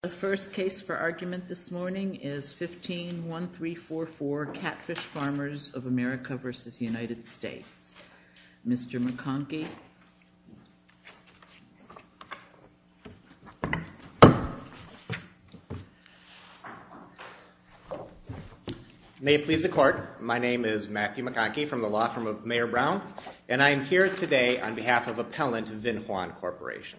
The first case for argument this morning is 15-1344 Catfish Farmers of America v. United States. Mr. McConkie. May it please the court. My name is Matthew McConkie from the law firm of Mayor Brown, and I am here today on behalf of Appellant Vinh Hoan Corporation.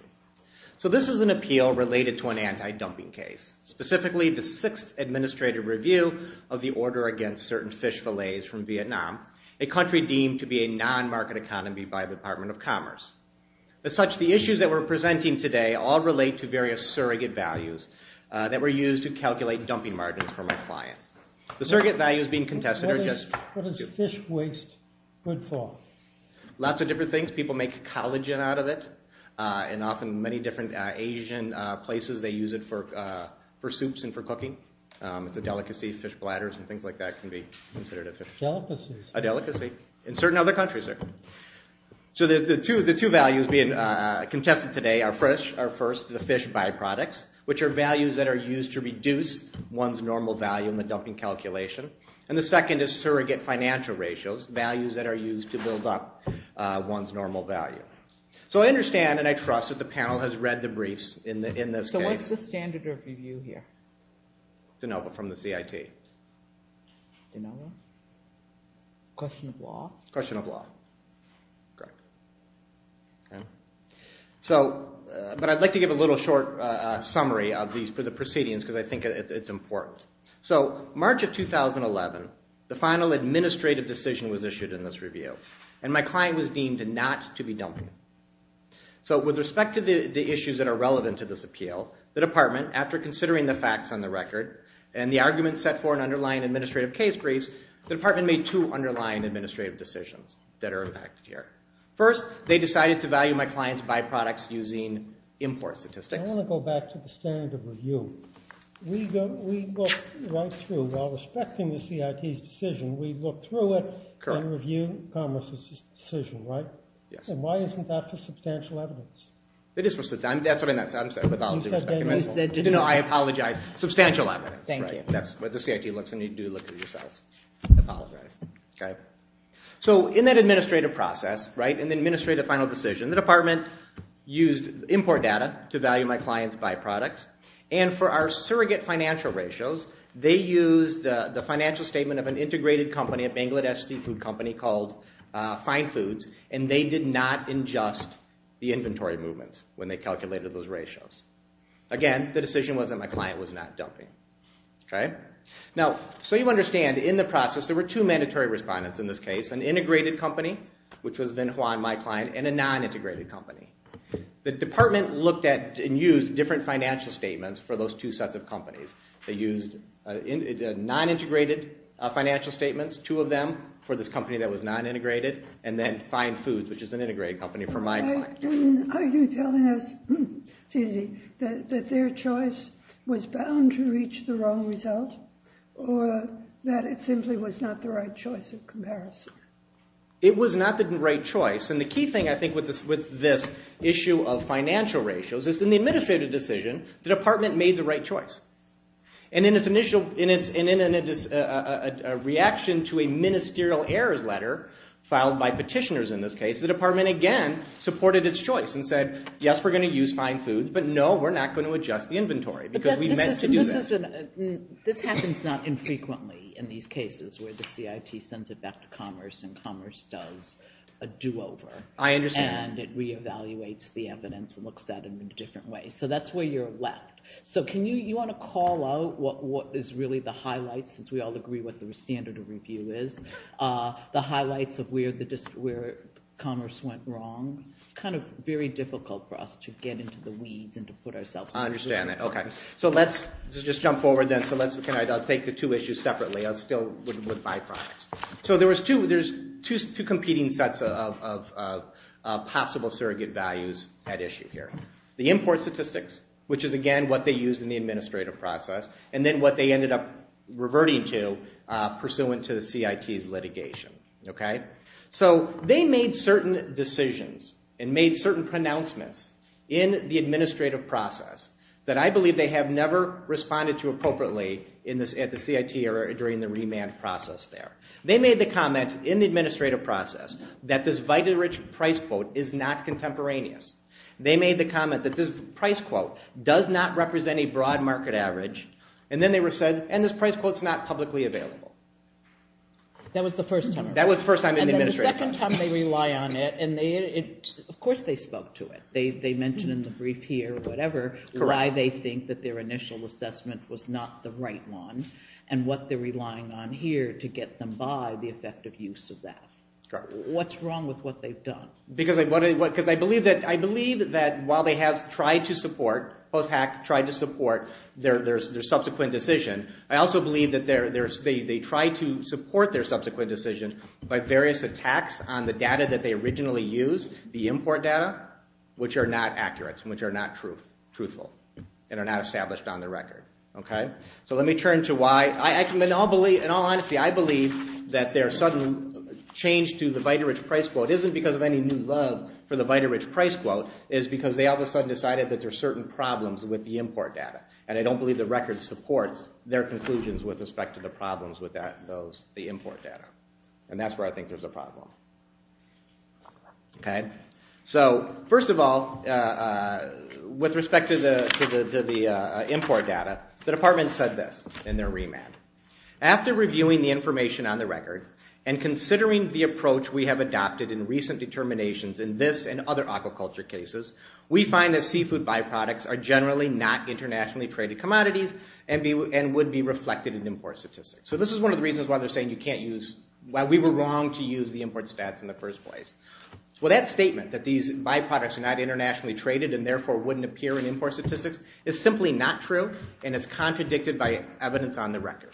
So this is an appeal related to an anti-dumping case, specifically the sixth administrative review of the order against certain fish fillets from Vietnam, a country deemed to be a non-market economy by the Department of Commerce. As such, the issues that we're presenting today all relate to various surrogate values that were used to calculate dumping margins for my client. The surrogate values being contested are just... What is fish waste good for? Lots of different things. People make collagen out of it, and often many different Asian places they use it for soups and for cooking. It's a delicacy. Fish bladders and things like that can be considered a fish... A delicacy in certain other countries. So the two values being contested today are first the fish byproducts, which are values that are used to reduce one's normal value in the dumping calculation. And the second is surrogate financial ratios, values that are used to build up one's normal value. So I understand and I trust that the panel has read the briefs in this case. So what's the standard of review here? No, but from the CIT. Question of law? Question of law. Correct. But I'd like to give a little short summary of the proceedings because I think it's important. So March of 2011, the final administrative decision was issued in this review, and my client was deemed not to be dumping. So with respect to the issues that are relevant to this appeal, the department, after considering the facts on the record and the arguments set for an underlying administrative case briefs, the department made two underlying administrative decisions that are impacted here. First, they decided to value my client's byproducts using import statistics. I want to go back to the standard of review. We go right through. While respecting the CIT's decision, we look through it and review Commerce's decision, right? Yes. And why isn't that the substantial evidence? It is. I apologize. Substantial evidence. Thank you. That's what the CIT looks, and you do look at it yourself. I apologize. So in that administrative process, in the administrative final decision, the department used import data to value my client's byproducts, and for our surrogate financial ratios, they used the financial statement of an integrated company, a Bangladesh seafood company called Fine Foods, and they did not ingest the inventory movements when they calculated those ratios. Again, the decision was that my client was not dumping, okay? Now, so you understand, in the process, there were two mandatory respondents in this case, an integrated company, which was Vinh Hoang, my client, and a non-integrated company. The department looked at and used different financial statements for those two sets of companies. They used non-integrated financial statements, two of them, for this company that was non-integrated, and then Fine Foods, which is an integrated company, for my client. Are you telling us, Susie, that their choice was bound to reach the wrong result, or that it simply was not the right choice in comparison? It was not the right choice, and the key thing, I think, with this issue of financial ratios is, in the administrative decision, the department made the right choice, and in its initial reaction to a ministerial errors letter filed by petitioners in this case, the department, again, supported its choice and said, yes, we're going to use Fine Foods, but no, we're not going to adjust the inventory because we meant to do this. This happens not infrequently in these cases where the CIT sends it back to Commerce and Commerce does a do-over. I understand. And it reevaluates the evidence and looks at them in different ways. So that's where you're left. So you want to call out what is really the highlight, since we all agree what the standard of review is, the highlights of where Commerce went wrong. It's kind of very difficult for us to get into the weeds and to put ourselves in the shoes of Commerce. I understand that. Okay. So let's just jump forward then. I'll take the two issues separately. I still wouldn't buy products. So there's two competing sets of possible surrogate values at issue here. The import statistics, which is, again, what they used in the administrative process, and then what they ended up reverting to pursuant to the CIT's litigation. Okay? So they made certain decisions and made certain pronouncements in the administrative process that I believe they have never responded to appropriately at the CIT during the remand process there. They made the comment in the administrative process that this vitally rich price quote is not contemporaneous. They made the comment that this price quote does not represent a broad market average, and then they said, and this price quote is not publicly available. That was the first time? That was the first time in the administrative process. And then the second time they rely on it, and of course they spoke to it. They mentioned in the brief here or whatever why they think that their initial assessment was not the right one and what they're relying on here to get them by the effective use of that. Correct. What's wrong with what they've done? Because I believe that while they have tried to support, post-hack, tried to support their subsequent decision, I also believe that they tried to support their subsequent decision by various attacks on the data that they originally used, the import data, which are not accurate and which are not truthful and are not established on the record. Okay? So let me turn to why. In all honesty, I believe that their sudden change to the VitaRich price quote isn't because of any new love for the VitaRich price quote. It's because they all of a sudden decided that there are certain problems with the import data, and I don't believe the record supports their conclusions with respect to the problems with the import data, and that's where I think there's a problem. Okay? So first of all, with respect to the import data, the department said this in their remand. After reviewing the information on the record and considering the approach we have adopted in recent determinations in this and other aquaculture cases, we find that seafood byproducts are generally not internationally traded commodities and would be reflected in import statistics. So this is one of the reasons why they're saying you can't use, why we were wrong to use the import stats in the first place. Well, that statement that these byproducts are not internationally traded and therefore wouldn't appear in import statistics is simply not true and is contradicted by evidence on the record.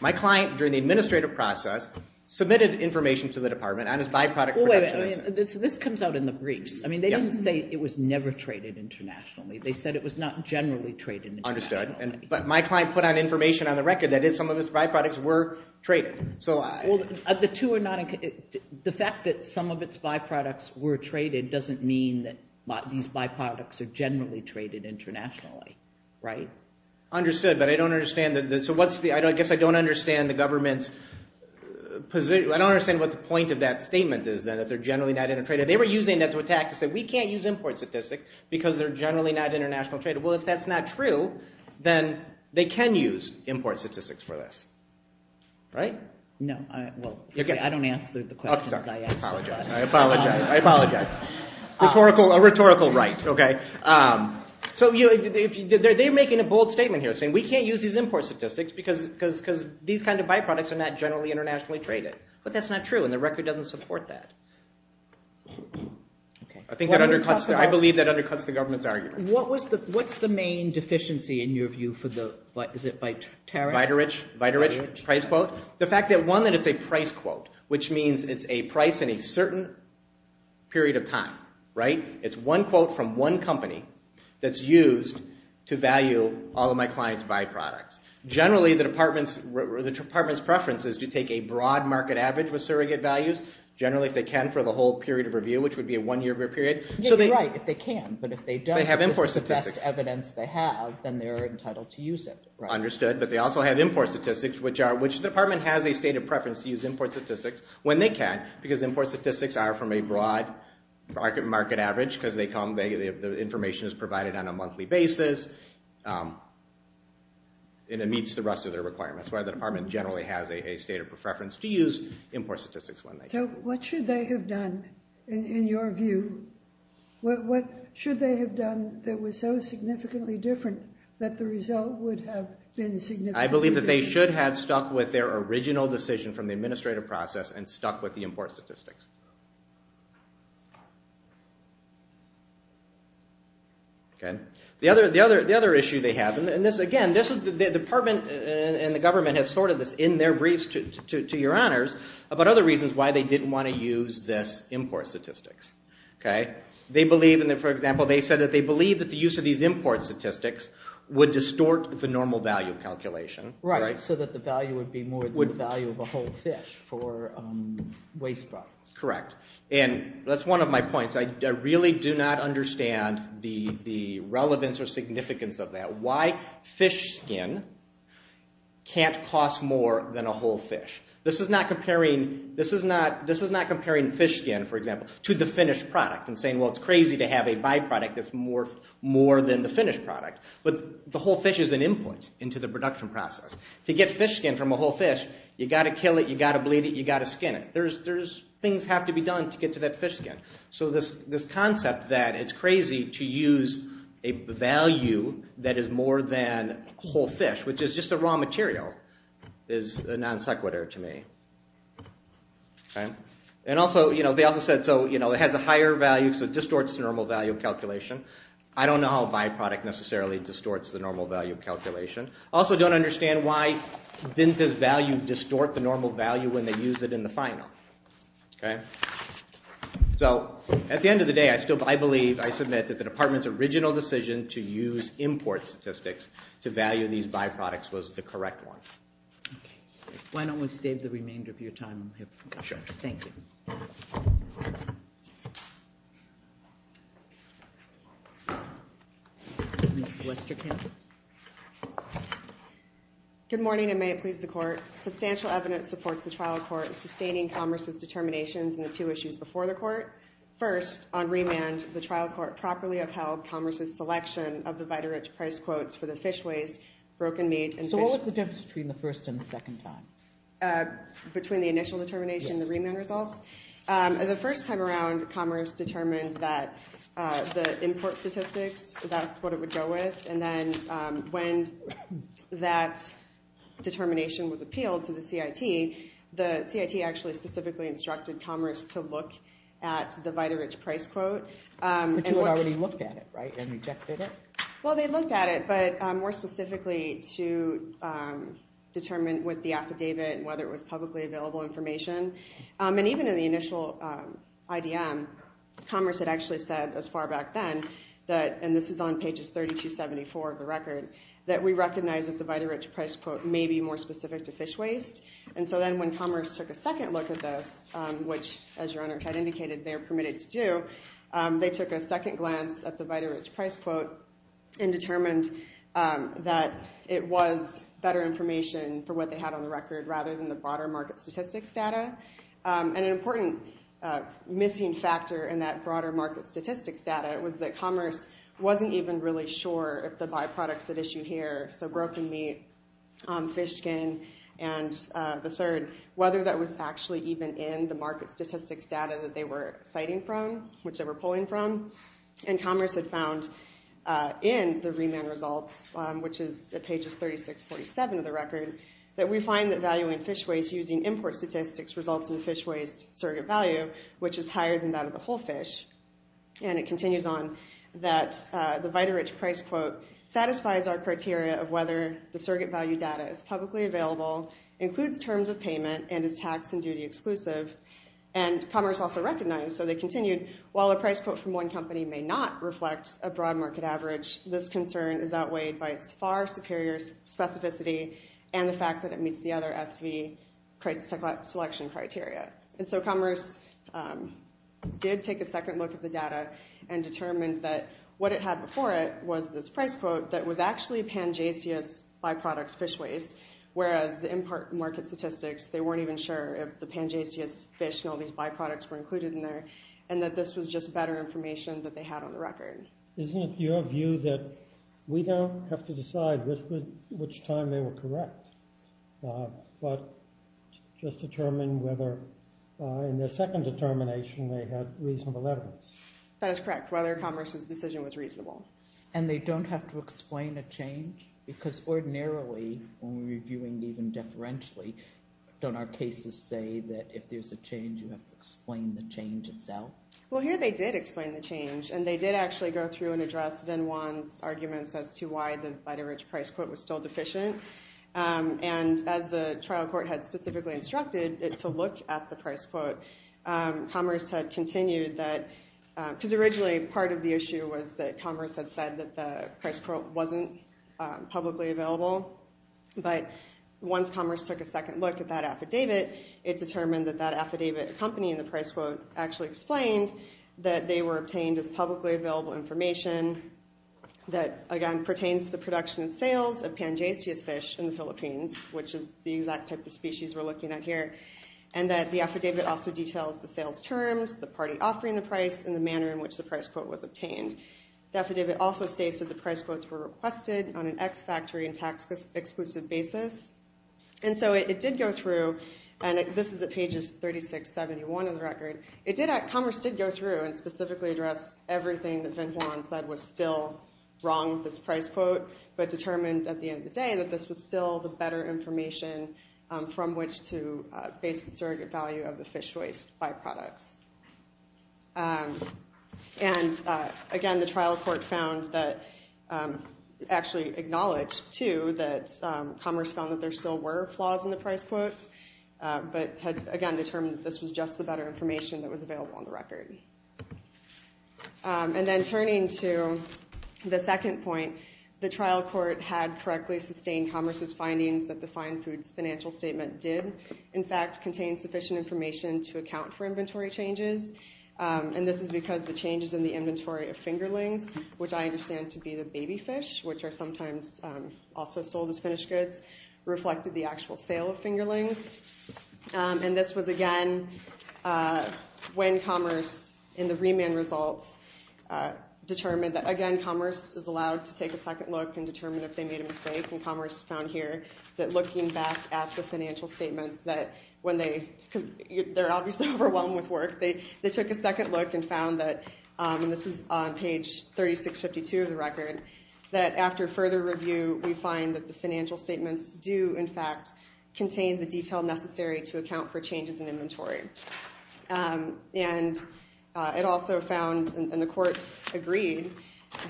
My client, during the administrative process, submitted information to the department on its byproduct protectionism. Well, wait a minute. This comes out in the briefs. I mean, they didn't say it was never traded internationally. They said it was not generally traded internationally. Understood. But my client put out information on the record that some of its byproducts were traded. The fact that some of its byproducts were traded doesn't mean that these byproducts are generally traded internationally, right? Understood, but I don't understand. So I guess I don't understand the government's position. I don't understand what the point of that statement is then, that they're generally not inter-traded. They were using that to attack and say we can't use import statistics because they're generally not international traded. Well, if that's not true, then they can use import statistics for this. Right? No. Well, I don't answer the questions I ask. I apologize. I apologize. A rhetorical right, okay? So they're making a bold statement here, saying we can't use these import statistics because these kind of byproducts are not generally internationally traded. But that's not true, and the record doesn't support that. I believe that undercuts the government's argument. What's the main deficiency, in your view, is it by tariff? By tariff? By tariff? Price quote? The fact that, one, that it's a price quote, which means it's a price in a certain period of time. Right? It's one quote from one company that's used to value all of my clients' byproducts. Generally, the department's preference is to take a broad market average with surrogate values, generally if they can for the whole period of review, which would be a one-year period. You're right, if they can. But if they don't, this is the best evidence they have, then they're entitled to use it. Understood. But they also have import statistics, which the department has a state of preference to use import statistics when they can, because import statistics are from a broad market average, because the information is provided on a monthly basis, and it meets the rest of their requirements. That's why the department generally has a state of preference to use import statistics when they can. So what should they have done, in your view? What should they have done that was so significantly different that the result would have been significantly different? I believe that they should have stuck with their original decision from the administrative process and stuck with the import statistics. The other issue they have, and again, the department and the government has sorted this in their briefs, to your honors, about other reasons why they didn't want to use this import statistics. For example, they said that they believed that the use of these import statistics would distort the normal value calculation. Right, so that the value would be more than the value of a whole fish for waste products. Correct, and that's one of my points. I really do not understand the relevance or significance of that. Why fish skin can't cost more than a whole fish. This is not comparing fish skin, for example, to the finished product and saying, well, it's crazy to have a byproduct that's more than the finished product. But the whole fish is an input into the production process. To get fish skin from a whole fish, you've got to kill it, you've got to bleed it, you've got to skin it. Things have to be done to get to that fish skin. So this concept that it's crazy to use a value that is more than a whole fish, which is just a raw material, is non sequitur to me. They also said it has a higher value, so it distorts the normal value calculation. I don't know how a byproduct necessarily distorts the normal value calculation. I also don't understand why didn't this value distort the normal value when they used it in the final. So at the end of the day, I still believe, I submit, that the department's original decision to use import statistics to value these byproducts was the correct one. Why don't we save the remainder of your time? Sure. Thank you. Good morning, and may it please the court. Substantial evidence supports the trial court sustaining Commerce's determinations in the two issues before the court. First, on remand, the trial court properly upheld Commerce's selection of the Vita-Rich price quotes for the fish waste, broken meat, and fish... So what was the difference between the first and the second time? Between the initial determination and the remand results? Yes. The first time around, Commerce determined that the import statistics, that's what it would go with. And then when that determination was appealed to the CIT, the CIT actually specifically instructed Commerce to look at the Vita-Rich price quote. But you had already looked at it, right, and rejected it? Well, they looked at it, but more specifically to determine with the affidavit whether it was publicly available information. And even in the initial IDM, Commerce had actually said, as far back then, and this is on pages 3274 of the record, that we recognize that the Vita-Rich price quote may be more specific to fish waste. And so then when Commerce took a second look at this, which, as your Honor kind of indicated, they are permitted to do, they took a second glance at the Vita-Rich price quote and determined that it was better information for what they had on the record rather than the broader market statistics data. And an important missing factor in that broader market statistics data was that Commerce wasn't even really sure if the byproducts at issue here, so broken meat, fish skin, and the third, whether that was actually even in the market statistics data that they were citing from, which they were pulling from. And Commerce had found in the remand results, which is at pages 3647 of the record, that we find that valuing fish waste using import statistics results in fish waste surrogate value, which is higher than that of the whole fish. And it continues on that the Vita-Rich price quote satisfies our criteria of whether the surrogate value data is publicly available, includes terms of payment, and is tax and duty exclusive. And Commerce also recognized, so they continued, while a price quote from one company may not reflect a broad market average, this concern is outweighed by its far superior specificity and the fact that it meets the other SV selection criteria. And so Commerce did take a second look at the data and determined that what it had before it was this price quote that was actually Pangasius byproducts fish waste, whereas the import market statistics, they weren't even sure if the Pangasius fish and all these byproducts were included in there, and that this was just better information that they had on the record. Isn't it your view that we don't have to decide which time they were correct, but just determine whether in their second determination they had reasonable evidence? That is correct, whether Commerce's decision was reasonable. And they don't have to explain a change? Because ordinarily, when we're reviewing even deferentially, don't our cases say that if there's a change you have to explain the change itself? Well, here they did explain the change, and they did actually go through and address Vin Wan's arguments as to why the Vita-Rich price quote was still deficient. And as the trial court had specifically instructed it to look at the price quote, Commerce had continued that, because originally part of the issue was that Commerce had said that the price quote wasn't publicly available. But once Commerce took a second look at that affidavit, it determined that that affidavit accompanying the price quote actually explained that they were obtained as publicly available information that, again, pertains to the production and sales of Pangasius fish in the Philippines, which is the exact type of species we're looking at here, and that the affidavit also details the sales terms, the party offering the price, and the manner in which the price quote was obtained. The affidavit also states that the price quotes were requested on an ex-factory and tax-exclusive basis. And so it did go through, and this is at pages 36-71 of the record, Commerce did go through and specifically address everything that Vin Wan said was still wrong with this price quote, but determined at the end of the day that this was still the better information from which to base the surrogate value of the fish waste byproducts. And, again, the trial court found that, actually acknowledged, too, that Commerce found that there still were flaws in the price quotes, but had, again, determined that this was just the better information that was available on the record. And then turning to the second point, the trial court had correctly sustained Commerce's findings that the fine foods financial statement did, in fact, contain sufficient information to account for inventory changes, and this is because the changes in the inventory of fingerlings, which I understand to be the baby fish, which are sometimes also sold as finished goods, reflected the actual sale of fingerlings. And this was, again, when Commerce, in the remand results, determined that, again, Commerce is allowed to take a second look and determine if they made a mistake, and Commerce found here that, looking back at the financial statements, that when they, because they're obviously overwhelmed with work, they took a second look and found that, and this is on page 3652 of the record, that after further review, we find that the financial statements do, in fact, contain the detail necessary to account for changes in inventory. And it also found, and the court agreed,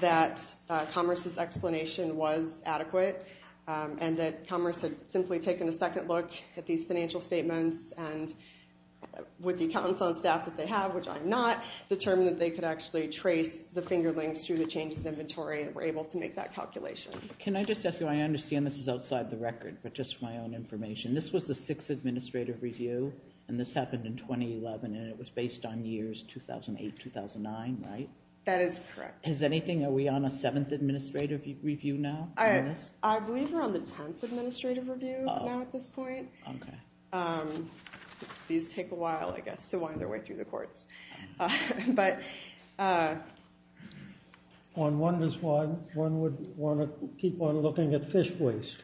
that Commerce's explanation was adequate and that Commerce had simply taken a second look at these financial statements and, with the accountants on staff that they have, which I am not, determined that they could actually trace the fingerlings through the changes in inventory and were able to make that calculation. Can I just ask you, I understand this is outside the record, but just for my own information, this was the sixth administrative review, and this happened in 2011, and it was based on years 2008, 2009, right? That is correct. Is anything, are we on a seventh administrative review now? I believe we're on the tenth administrative review now at this point. Okay. These take a while, I guess, to wind their way through the courts. But... One wonders why one would want to keep on looking at fish waste.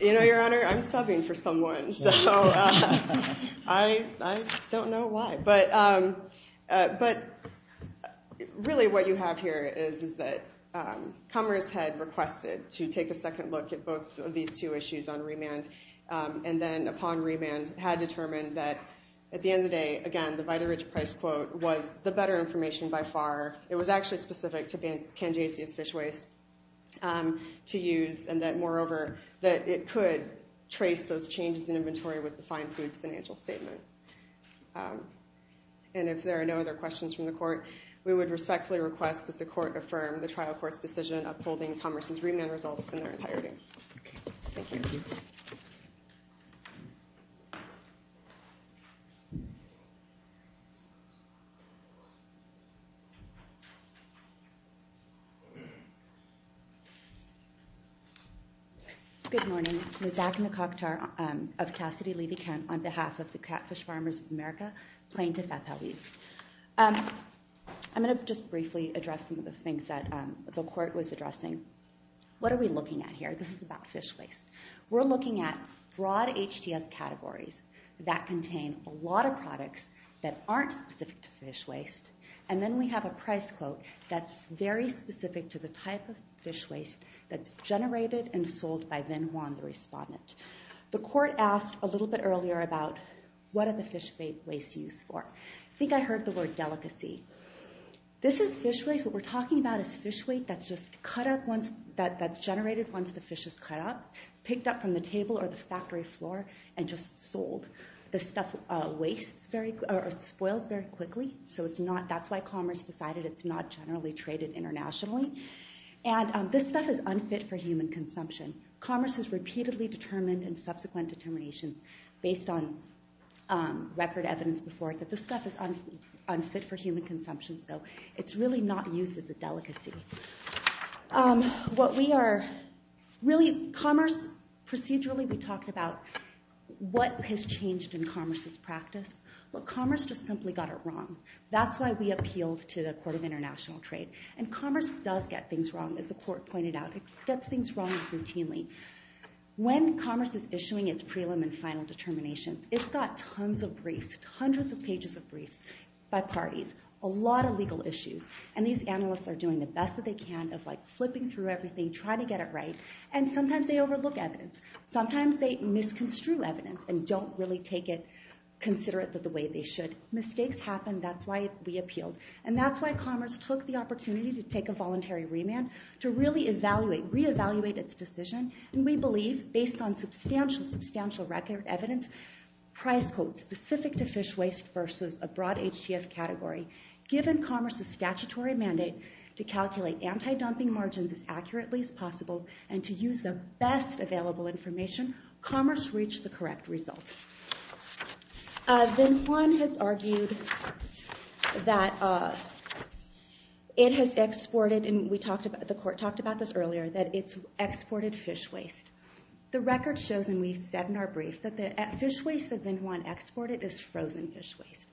You know, Your Honor, I'm subbing for someone, so I don't know why. But really what you have here is that Commerce had requested to take a second look at both of these two issues on remand, and then upon remand had determined that, at the end of the day, again, the Vita-Rich Price Quote was the better information by far. It was actually specific to Kangeasian fish waste to use, and that, moreover, that it could trace those changes in inventory with the fine foods financial statement. And if there are no other questions from the court, we would respectfully request that the court affirm the trial court's decision upholding Commerce's remand results in their entirety. Thank you. Thank you. Good morning. Lizak Nakaktar of Cassidy-Levy County, on behalf of the Catfish Farmers of America Plaintiff, FLB. I'm going to just briefly address some of the things that the court was addressing. What are we looking at here? This is about fish waste. We're looking at broad HDS categories that contain a lot of products that aren't specific to fish waste, and then we have a price quote that's very specific to the type of fish waste that's generated and sold by Vin Huan, the respondent. The court asked a little bit earlier about what are the fish waste used for. I think I heard the word delicacy. This is fish waste. What we're talking about is fish waste that's generated once the fish is cut up, picked up from the table or the factory floor, and just sold. This stuff spoils very quickly, so that's why Commerce decided it's not generally traded internationally. And this stuff is unfit for human consumption. Commerce has repeatedly determined in subsequent determinations based on record evidence before that this stuff is unfit for human consumption. So it's really not used as a delicacy. Procedurally, we talked about what has changed in Commerce's practice. Commerce just simply got it wrong. That's why we appealed to the Court of International Trade. Commerce does get things wrong, as the court pointed out. It gets things wrong routinely. When Commerce is issuing its prelim and final determinations, it's got tons of briefs, hundreds of pages of briefs by parties. A lot of legal issues. And these analysts are doing the best that they can of flipping through everything, trying to get it right, and sometimes they overlook evidence. Sometimes they misconstrue evidence and don't really consider it the way they should. Mistakes happen. That's why we appealed. And that's why Commerce took the opportunity to take a voluntary remand to really reevaluate its decision. And we believe, based on substantial, substantial record evidence, price codes specific to fish waste versus a broad HTS category, given Commerce's statutory mandate to calculate anti-dumping margins as accurately as possible and to use the best available information, Commerce reached the correct result. Then Juan has argued that it has exported, and the court talked about this earlier, that it's exported fish waste. The record shows, and we've said in our brief, that the fish waste that Vin Juan exported is frozen fish waste.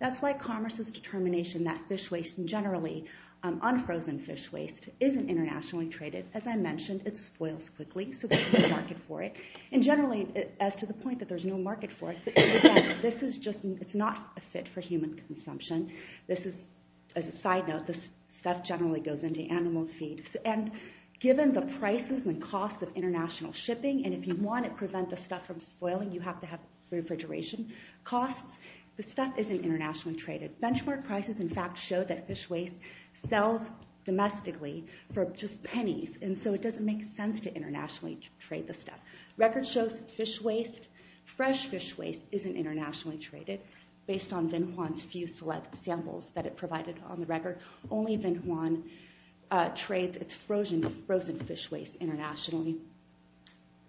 That's why Commerce's determination that fish waste, and generally unfrozen fish waste, isn't internationally traded. As I mentioned, it spoils quickly, so there's no market for it. And generally, as to the point that there's no market for it, this is just not a fit for human consumption. This is, as a side note, this stuff generally goes into animal feed. And given the prices and costs of international shipping, and if you want to prevent the stuff from spoiling, you have to have refrigeration costs, this stuff isn't internationally traded. Benchmark prices, in fact, show that fish waste sells domestically for just pennies, and so it doesn't make sense to internationally trade this stuff. Record shows fish waste, fresh fish waste, isn't internationally traded. Based on Vin Juan's few select samples that it provided on the record, only Vin Juan trades its frozen fish waste internationally.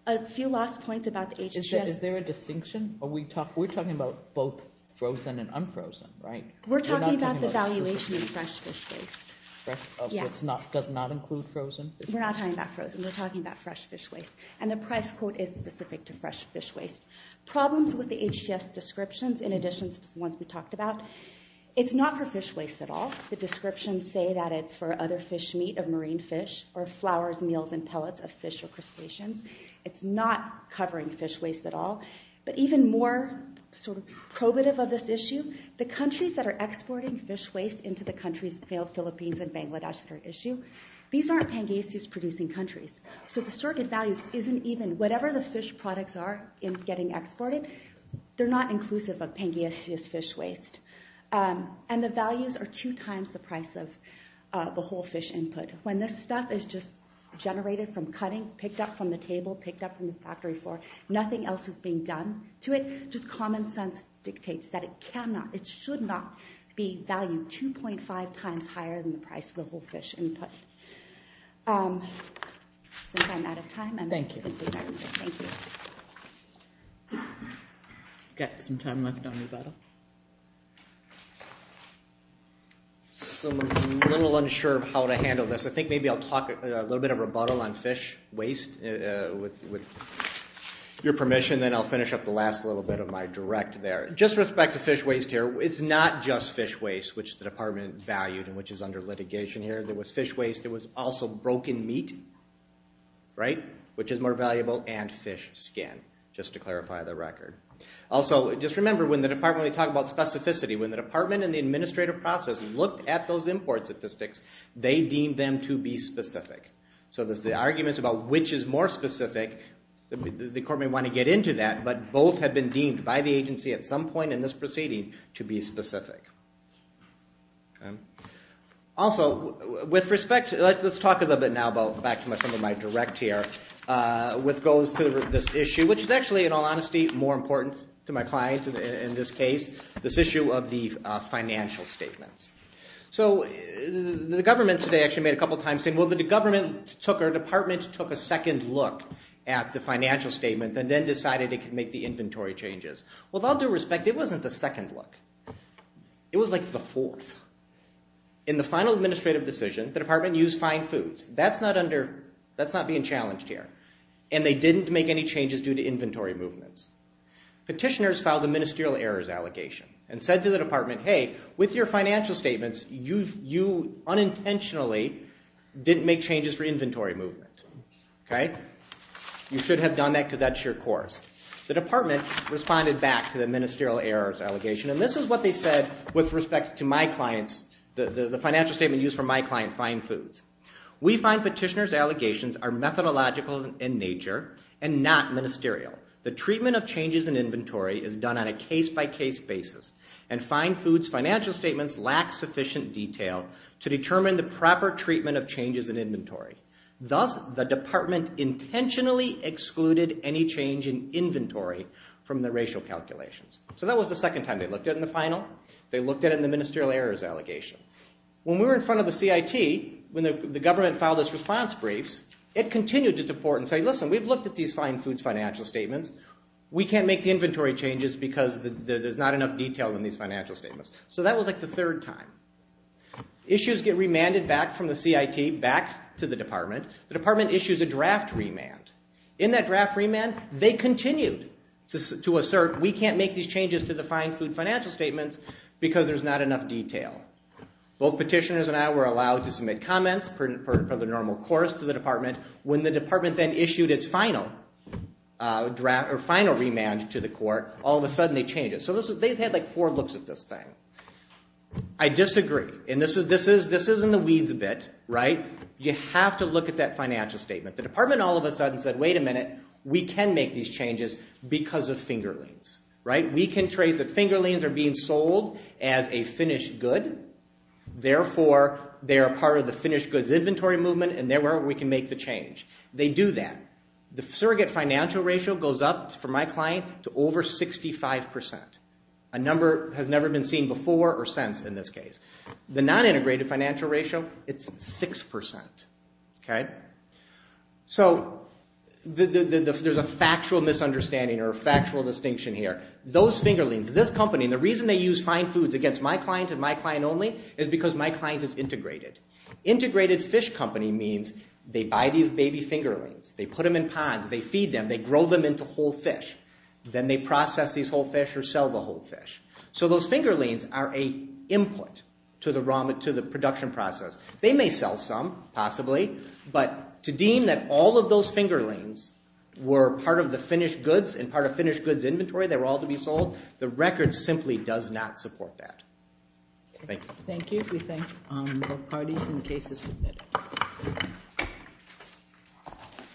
A few last points about the HGS. Is there a distinction? We're talking about both frozen and unfrozen, right? We're talking about the valuation of fresh fish waste. So it does not include frozen? We're not talking about frozen, we're talking about fresh fish waste. And the price quote is specific to fresh fish waste. Problems with the HGS descriptions, in addition to the ones we talked about, it's not for fish waste at all. The descriptions say that it's for other fish meat, or marine fish, or flowers, meals, and pellets of fish or crustaceans. It's not covering fish waste at all. But even more probative of this issue, the countries that are exporting fish waste into the countries of the Philippines and Bangladesh that are at issue, these aren't Pangaeus-producing countries. So the circuit values isn't even, whatever the fish products are in getting exported, they're not inclusive of Pangaeus fish waste. And the values are two times the price of the whole fish input. When this stuff is just generated from cutting, picked up from the table, picked up from the factory floor, nothing else is being done to it, just common sense dictates that it cannot, it should not be valued 2.5 times higher than the price of the whole fish input. Since I'm out of time, I'm going to take my leave. Thank you. Got some time left on rebuttal. So I'm a little unsure of how to handle this. I think maybe I'll talk a little bit of rebuttal on fish waste, with your permission, then I'll finish up the last little bit of my direct there. Just respect to fish waste here, it's not just fish waste, which the department valued and which is under litigation here. There was fish waste, there was also broken meat, right, which is more valuable, and fish skin, just to clarify the record. Also, just remember, when the department, when we talk about specificity, when the department and the administrative process looked at those import statistics, they deemed them to be specific. So the arguments about which is more specific, the court may want to get into that, but both have been deemed by the agency at some point in this proceeding to be specific. Also, with respect, let's talk a little bit now, back to some of my direct here, which goes to this issue, which is actually, in all honesty, more important to my client in this case, this issue of the financial statements. So the government today actually made a couple times, saying, well, the government took, or the department took a second look at the financial statement, and then decided it could make the inventory changes. With all due respect, it wasn't the second look. It was like the fourth. In the final administrative decision, the department used fine foods. That's not under, that's not being challenged here. And they didn't make any changes due to inventory movements. Petitioners filed a ministerial errors allegation, and said to the department, hey, with your financial statements, you unintentionally didn't make changes for inventory movement. You should have done that, because that's your course. The department responded back to the ministerial errors allegation, and this is what they said with respect to my clients, the financial statement used for my client, fine foods. We find petitioners' allegations are methodological in nature, and not ministerial. The treatment of changes in inventory is done on a case-by-case basis, and fine foods financial statements lack sufficient detail to determine the proper treatment of changes in inventory. Thus, the department intentionally excluded any change in inventory from the racial calculations. So that was the second time they looked at it in the final. They looked at it in the ministerial errors allegation. When we were in front of the CIT, when the government filed its response briefs, it continued to deport and say, listen, we've looked at these fine foods financial statements. We can't make the inventory changes because there's not enough detail in these financial statements. So that was like the third time. Issues get remanded back from the CIT, back to the department. The department issues a draft remand. In that draft remand, they continued to assert, we can't make these changes to the fine food financial statements because there's not enough detail. Both petitioners and I were allowed to submit comments per the normal course to the department. When the department then issued its final remand to the court, all of a sudden they changed it. So they've had like four looks at this thing. I disagree. And this is in the weeds a bit, right? You have to look at that financial statement. The department all of a sudden said, wait a minute, we can make these changes because of fingerlings. We can trace that fingerlings are being sold as a finished good. Therefore, they are part of the finished goods inventory movement, and there we can make the change. They do that. The surrogate financial ratio goes up for my client to over 65%. A number that has never been seen before or since in this case. The non-integrated financial ratio, it's 6%. So there's a factual misunderstanding or a factual distinction here. Those fingerlings, this company, and the reason they use fine foods against my client and my client only is because my client is integrated. Integrated fish company means they buy these baby fingerlings, they put them in ponds, they feed them, they grow them into whole fish. Then they process these whole fish or sell the whole fish. So those fingerlings are a input to the production process. They may sell some, possibly, but to deem that all of those fingerlings were part of the finished goods and part of finished goods inventory, they were all to be sold, the record simply does not support that. Thank you. Thank you. We thank all parties and cases submitted.